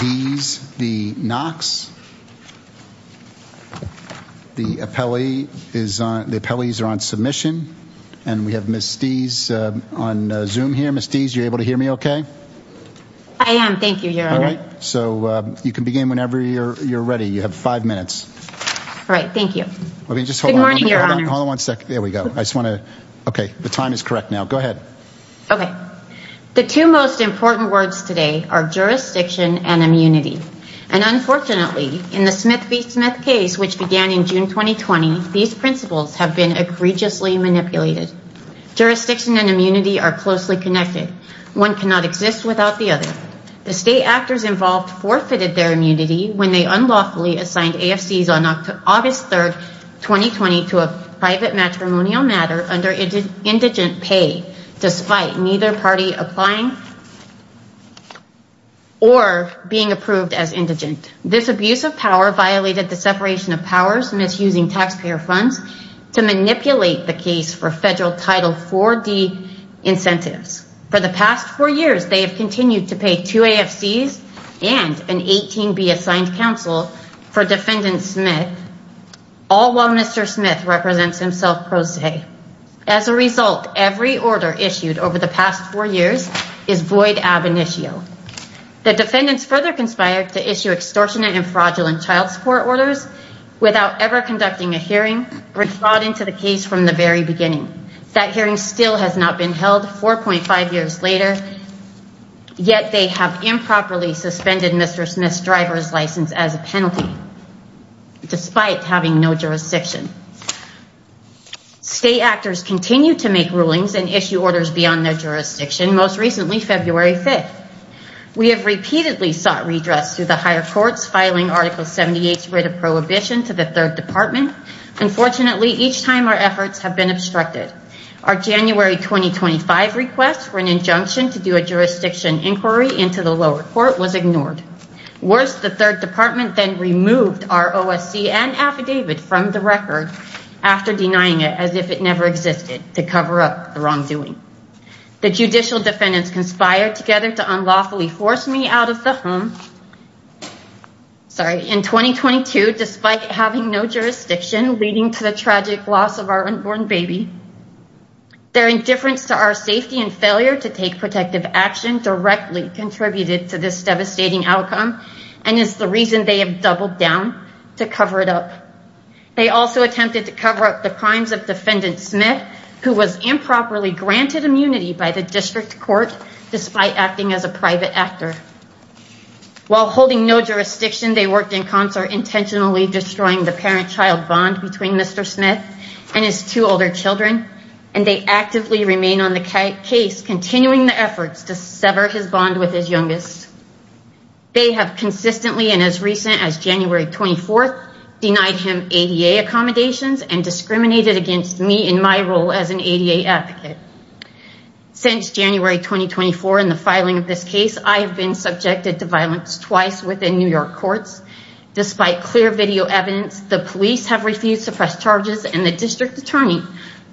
Dees v. Knox. The appellees are on submission, and we have Ms. Dees on Zoom here. Ms. Dees, are you able to hear me okay? I am, thank you, Your Honor. All right, so you can begin whenever you're ready. You have five minutes. All right, thank you. Good morning, Your Honor. Hold on one second. There we go. Okay, the time is correct now. Go ahead. Okay, the two most important words today are jurisdiction and immunity. And unfortunately, in the Smith v. Smith case, which began in June 2020, these principles have been egregiously manipulated. Jurisdiction and immunity are closely connected. One cannot exist without the other. The state actors involved forfeited their immunity when they unlawfully assigned AFCs on August 3, 2020 to a private matrimonial matter under indigent pay, despite neither party applying or being approved as indigent. This abuse of power violated the separation of powers, misusing taxpayer funds to manipulate the case for federal Title IV-D incentives. For the past four years, they have continued to pay two AFCs and an 18B assigned counsel for defendant Smith, all while Mr. Smith represents himself pro se. As a result, every order issued over the past four years is void ab initio. The defendants further conspired to issue extortionate and fraudulent child support orders without ever conducting a hearing, which brought into the case from the very beginning. That hearing still has not been held 4.5 years later, yet they have improperly suspended Mr. Smith's driver's license as a penalty, despite having no jurisdiction. State actors continue to make rulings and issue orders beyond their jurisdiction, most recently February 5. We have repeatedly sought redress through the higher courts, filing Article 78's writ of prohibition to the 3rd Department. Unfortunately, each time our efforts have been obstructed. Our January 2025 request for an injunction to do a OSC and affidavit from the record after denying it as if it never existed to cover up the wrongdoing. The judicial defendants conspired together to unlawfully force me out of the home in 2022, despite having no jurisdiction, leading to the tragic loss of our unborn baby. Their indifference to our safety and failure to take protective action directly contributed to this devastating outcome and is the reason they have doubled down to cover it up. They also attempted to cover up the crimes of Defendant Smith, who was improperly granted immunity by the District Court despite acting as a private actor. While holding no jurisdiction, they worked in concert intentionally destroying the parent-child bond between Mr. Smith and his two older children, and they actively remain on the case, continuing the efforts to sever his bond with his youngest. They have consistently, and as recent as January 24th, denied him ADA accommodations and discriminated against me in my role as an ADA advocate. Since January 2024 and the filing of this case, I have been subjected to violence twice within New York courts. Despite clear video evidence, the police have refused to press charges and the District Attorney,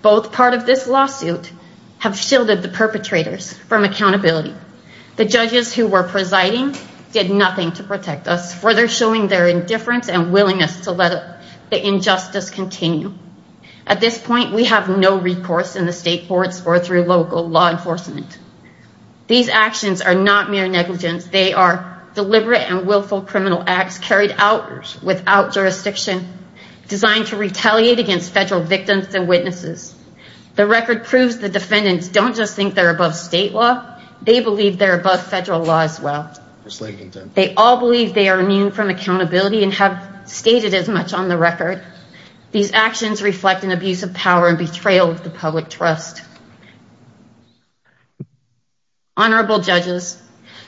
both part of this lawsuit, have shielded perpetrators from accountability. The judges who were presiding did nothing to protect us, further showing their indifference and willingness to let the injustice continue. At this point, we have no recourse in the state courts or through local law enforcement. These actions are not mere negligence. They are deliberate and willful criminal acts carried out without jurisdiction, designed to retaliate against federal victims and witnesses. The record proves the defendants don't just think they're above state law, they believe they're above federal law as well. They all believe they are immune from accountability and have stated as much on the record. These actions reflect an abuse of power and betrayal of the public trust. Honorable judges,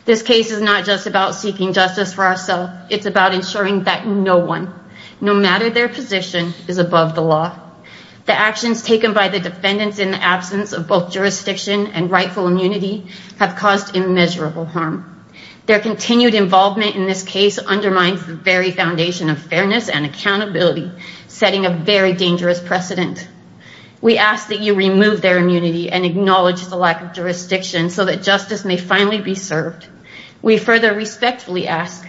this case is not just about seeking justice for ourselves, it's about ensuring that no one, no matter their position, is above the law. The actions taken by the defendants in the absence of both jurisdiction and rightful immunity have caused immeasurable harm. Their continued involvement in this case undermines the very foundation of fairness and accountability, setting a very dangerous precedent. We ask that you remove their immunity and acknowledge the lack of jurisdiction so that justice may finally be served. We further respectfully ask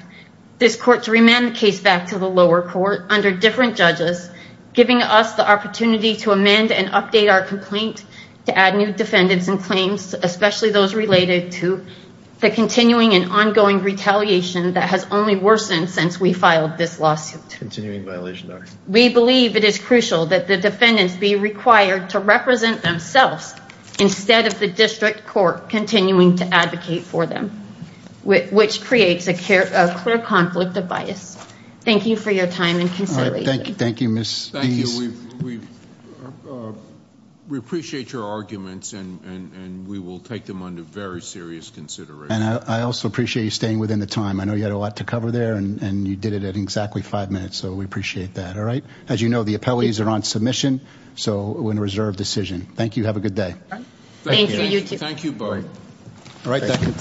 this court to remand the case back to the lower court under different judges, giving us the opportunity to update our complaint to add new defendants and claims, especially those related to the continuing and ongoing retaliation that has only worsened since we filed this lawsuit. We believe it is crucial that the defendants be required to represent themselves instead of the district court continuing to advocate for them, which creates a clear conflict of bias. Thank you for your time and consideration. Thank you. We appreciate your arguments, and we will take them under very serious consideration. I also appreciate you staying within the time. I know you had a lot to cover there, and you did it in exactly five minutes, so we appreciate that. All right. As you know, the appellees are on submission, so it was a reserved decision. Thank you. Have a good day. Thank you. Thank you both.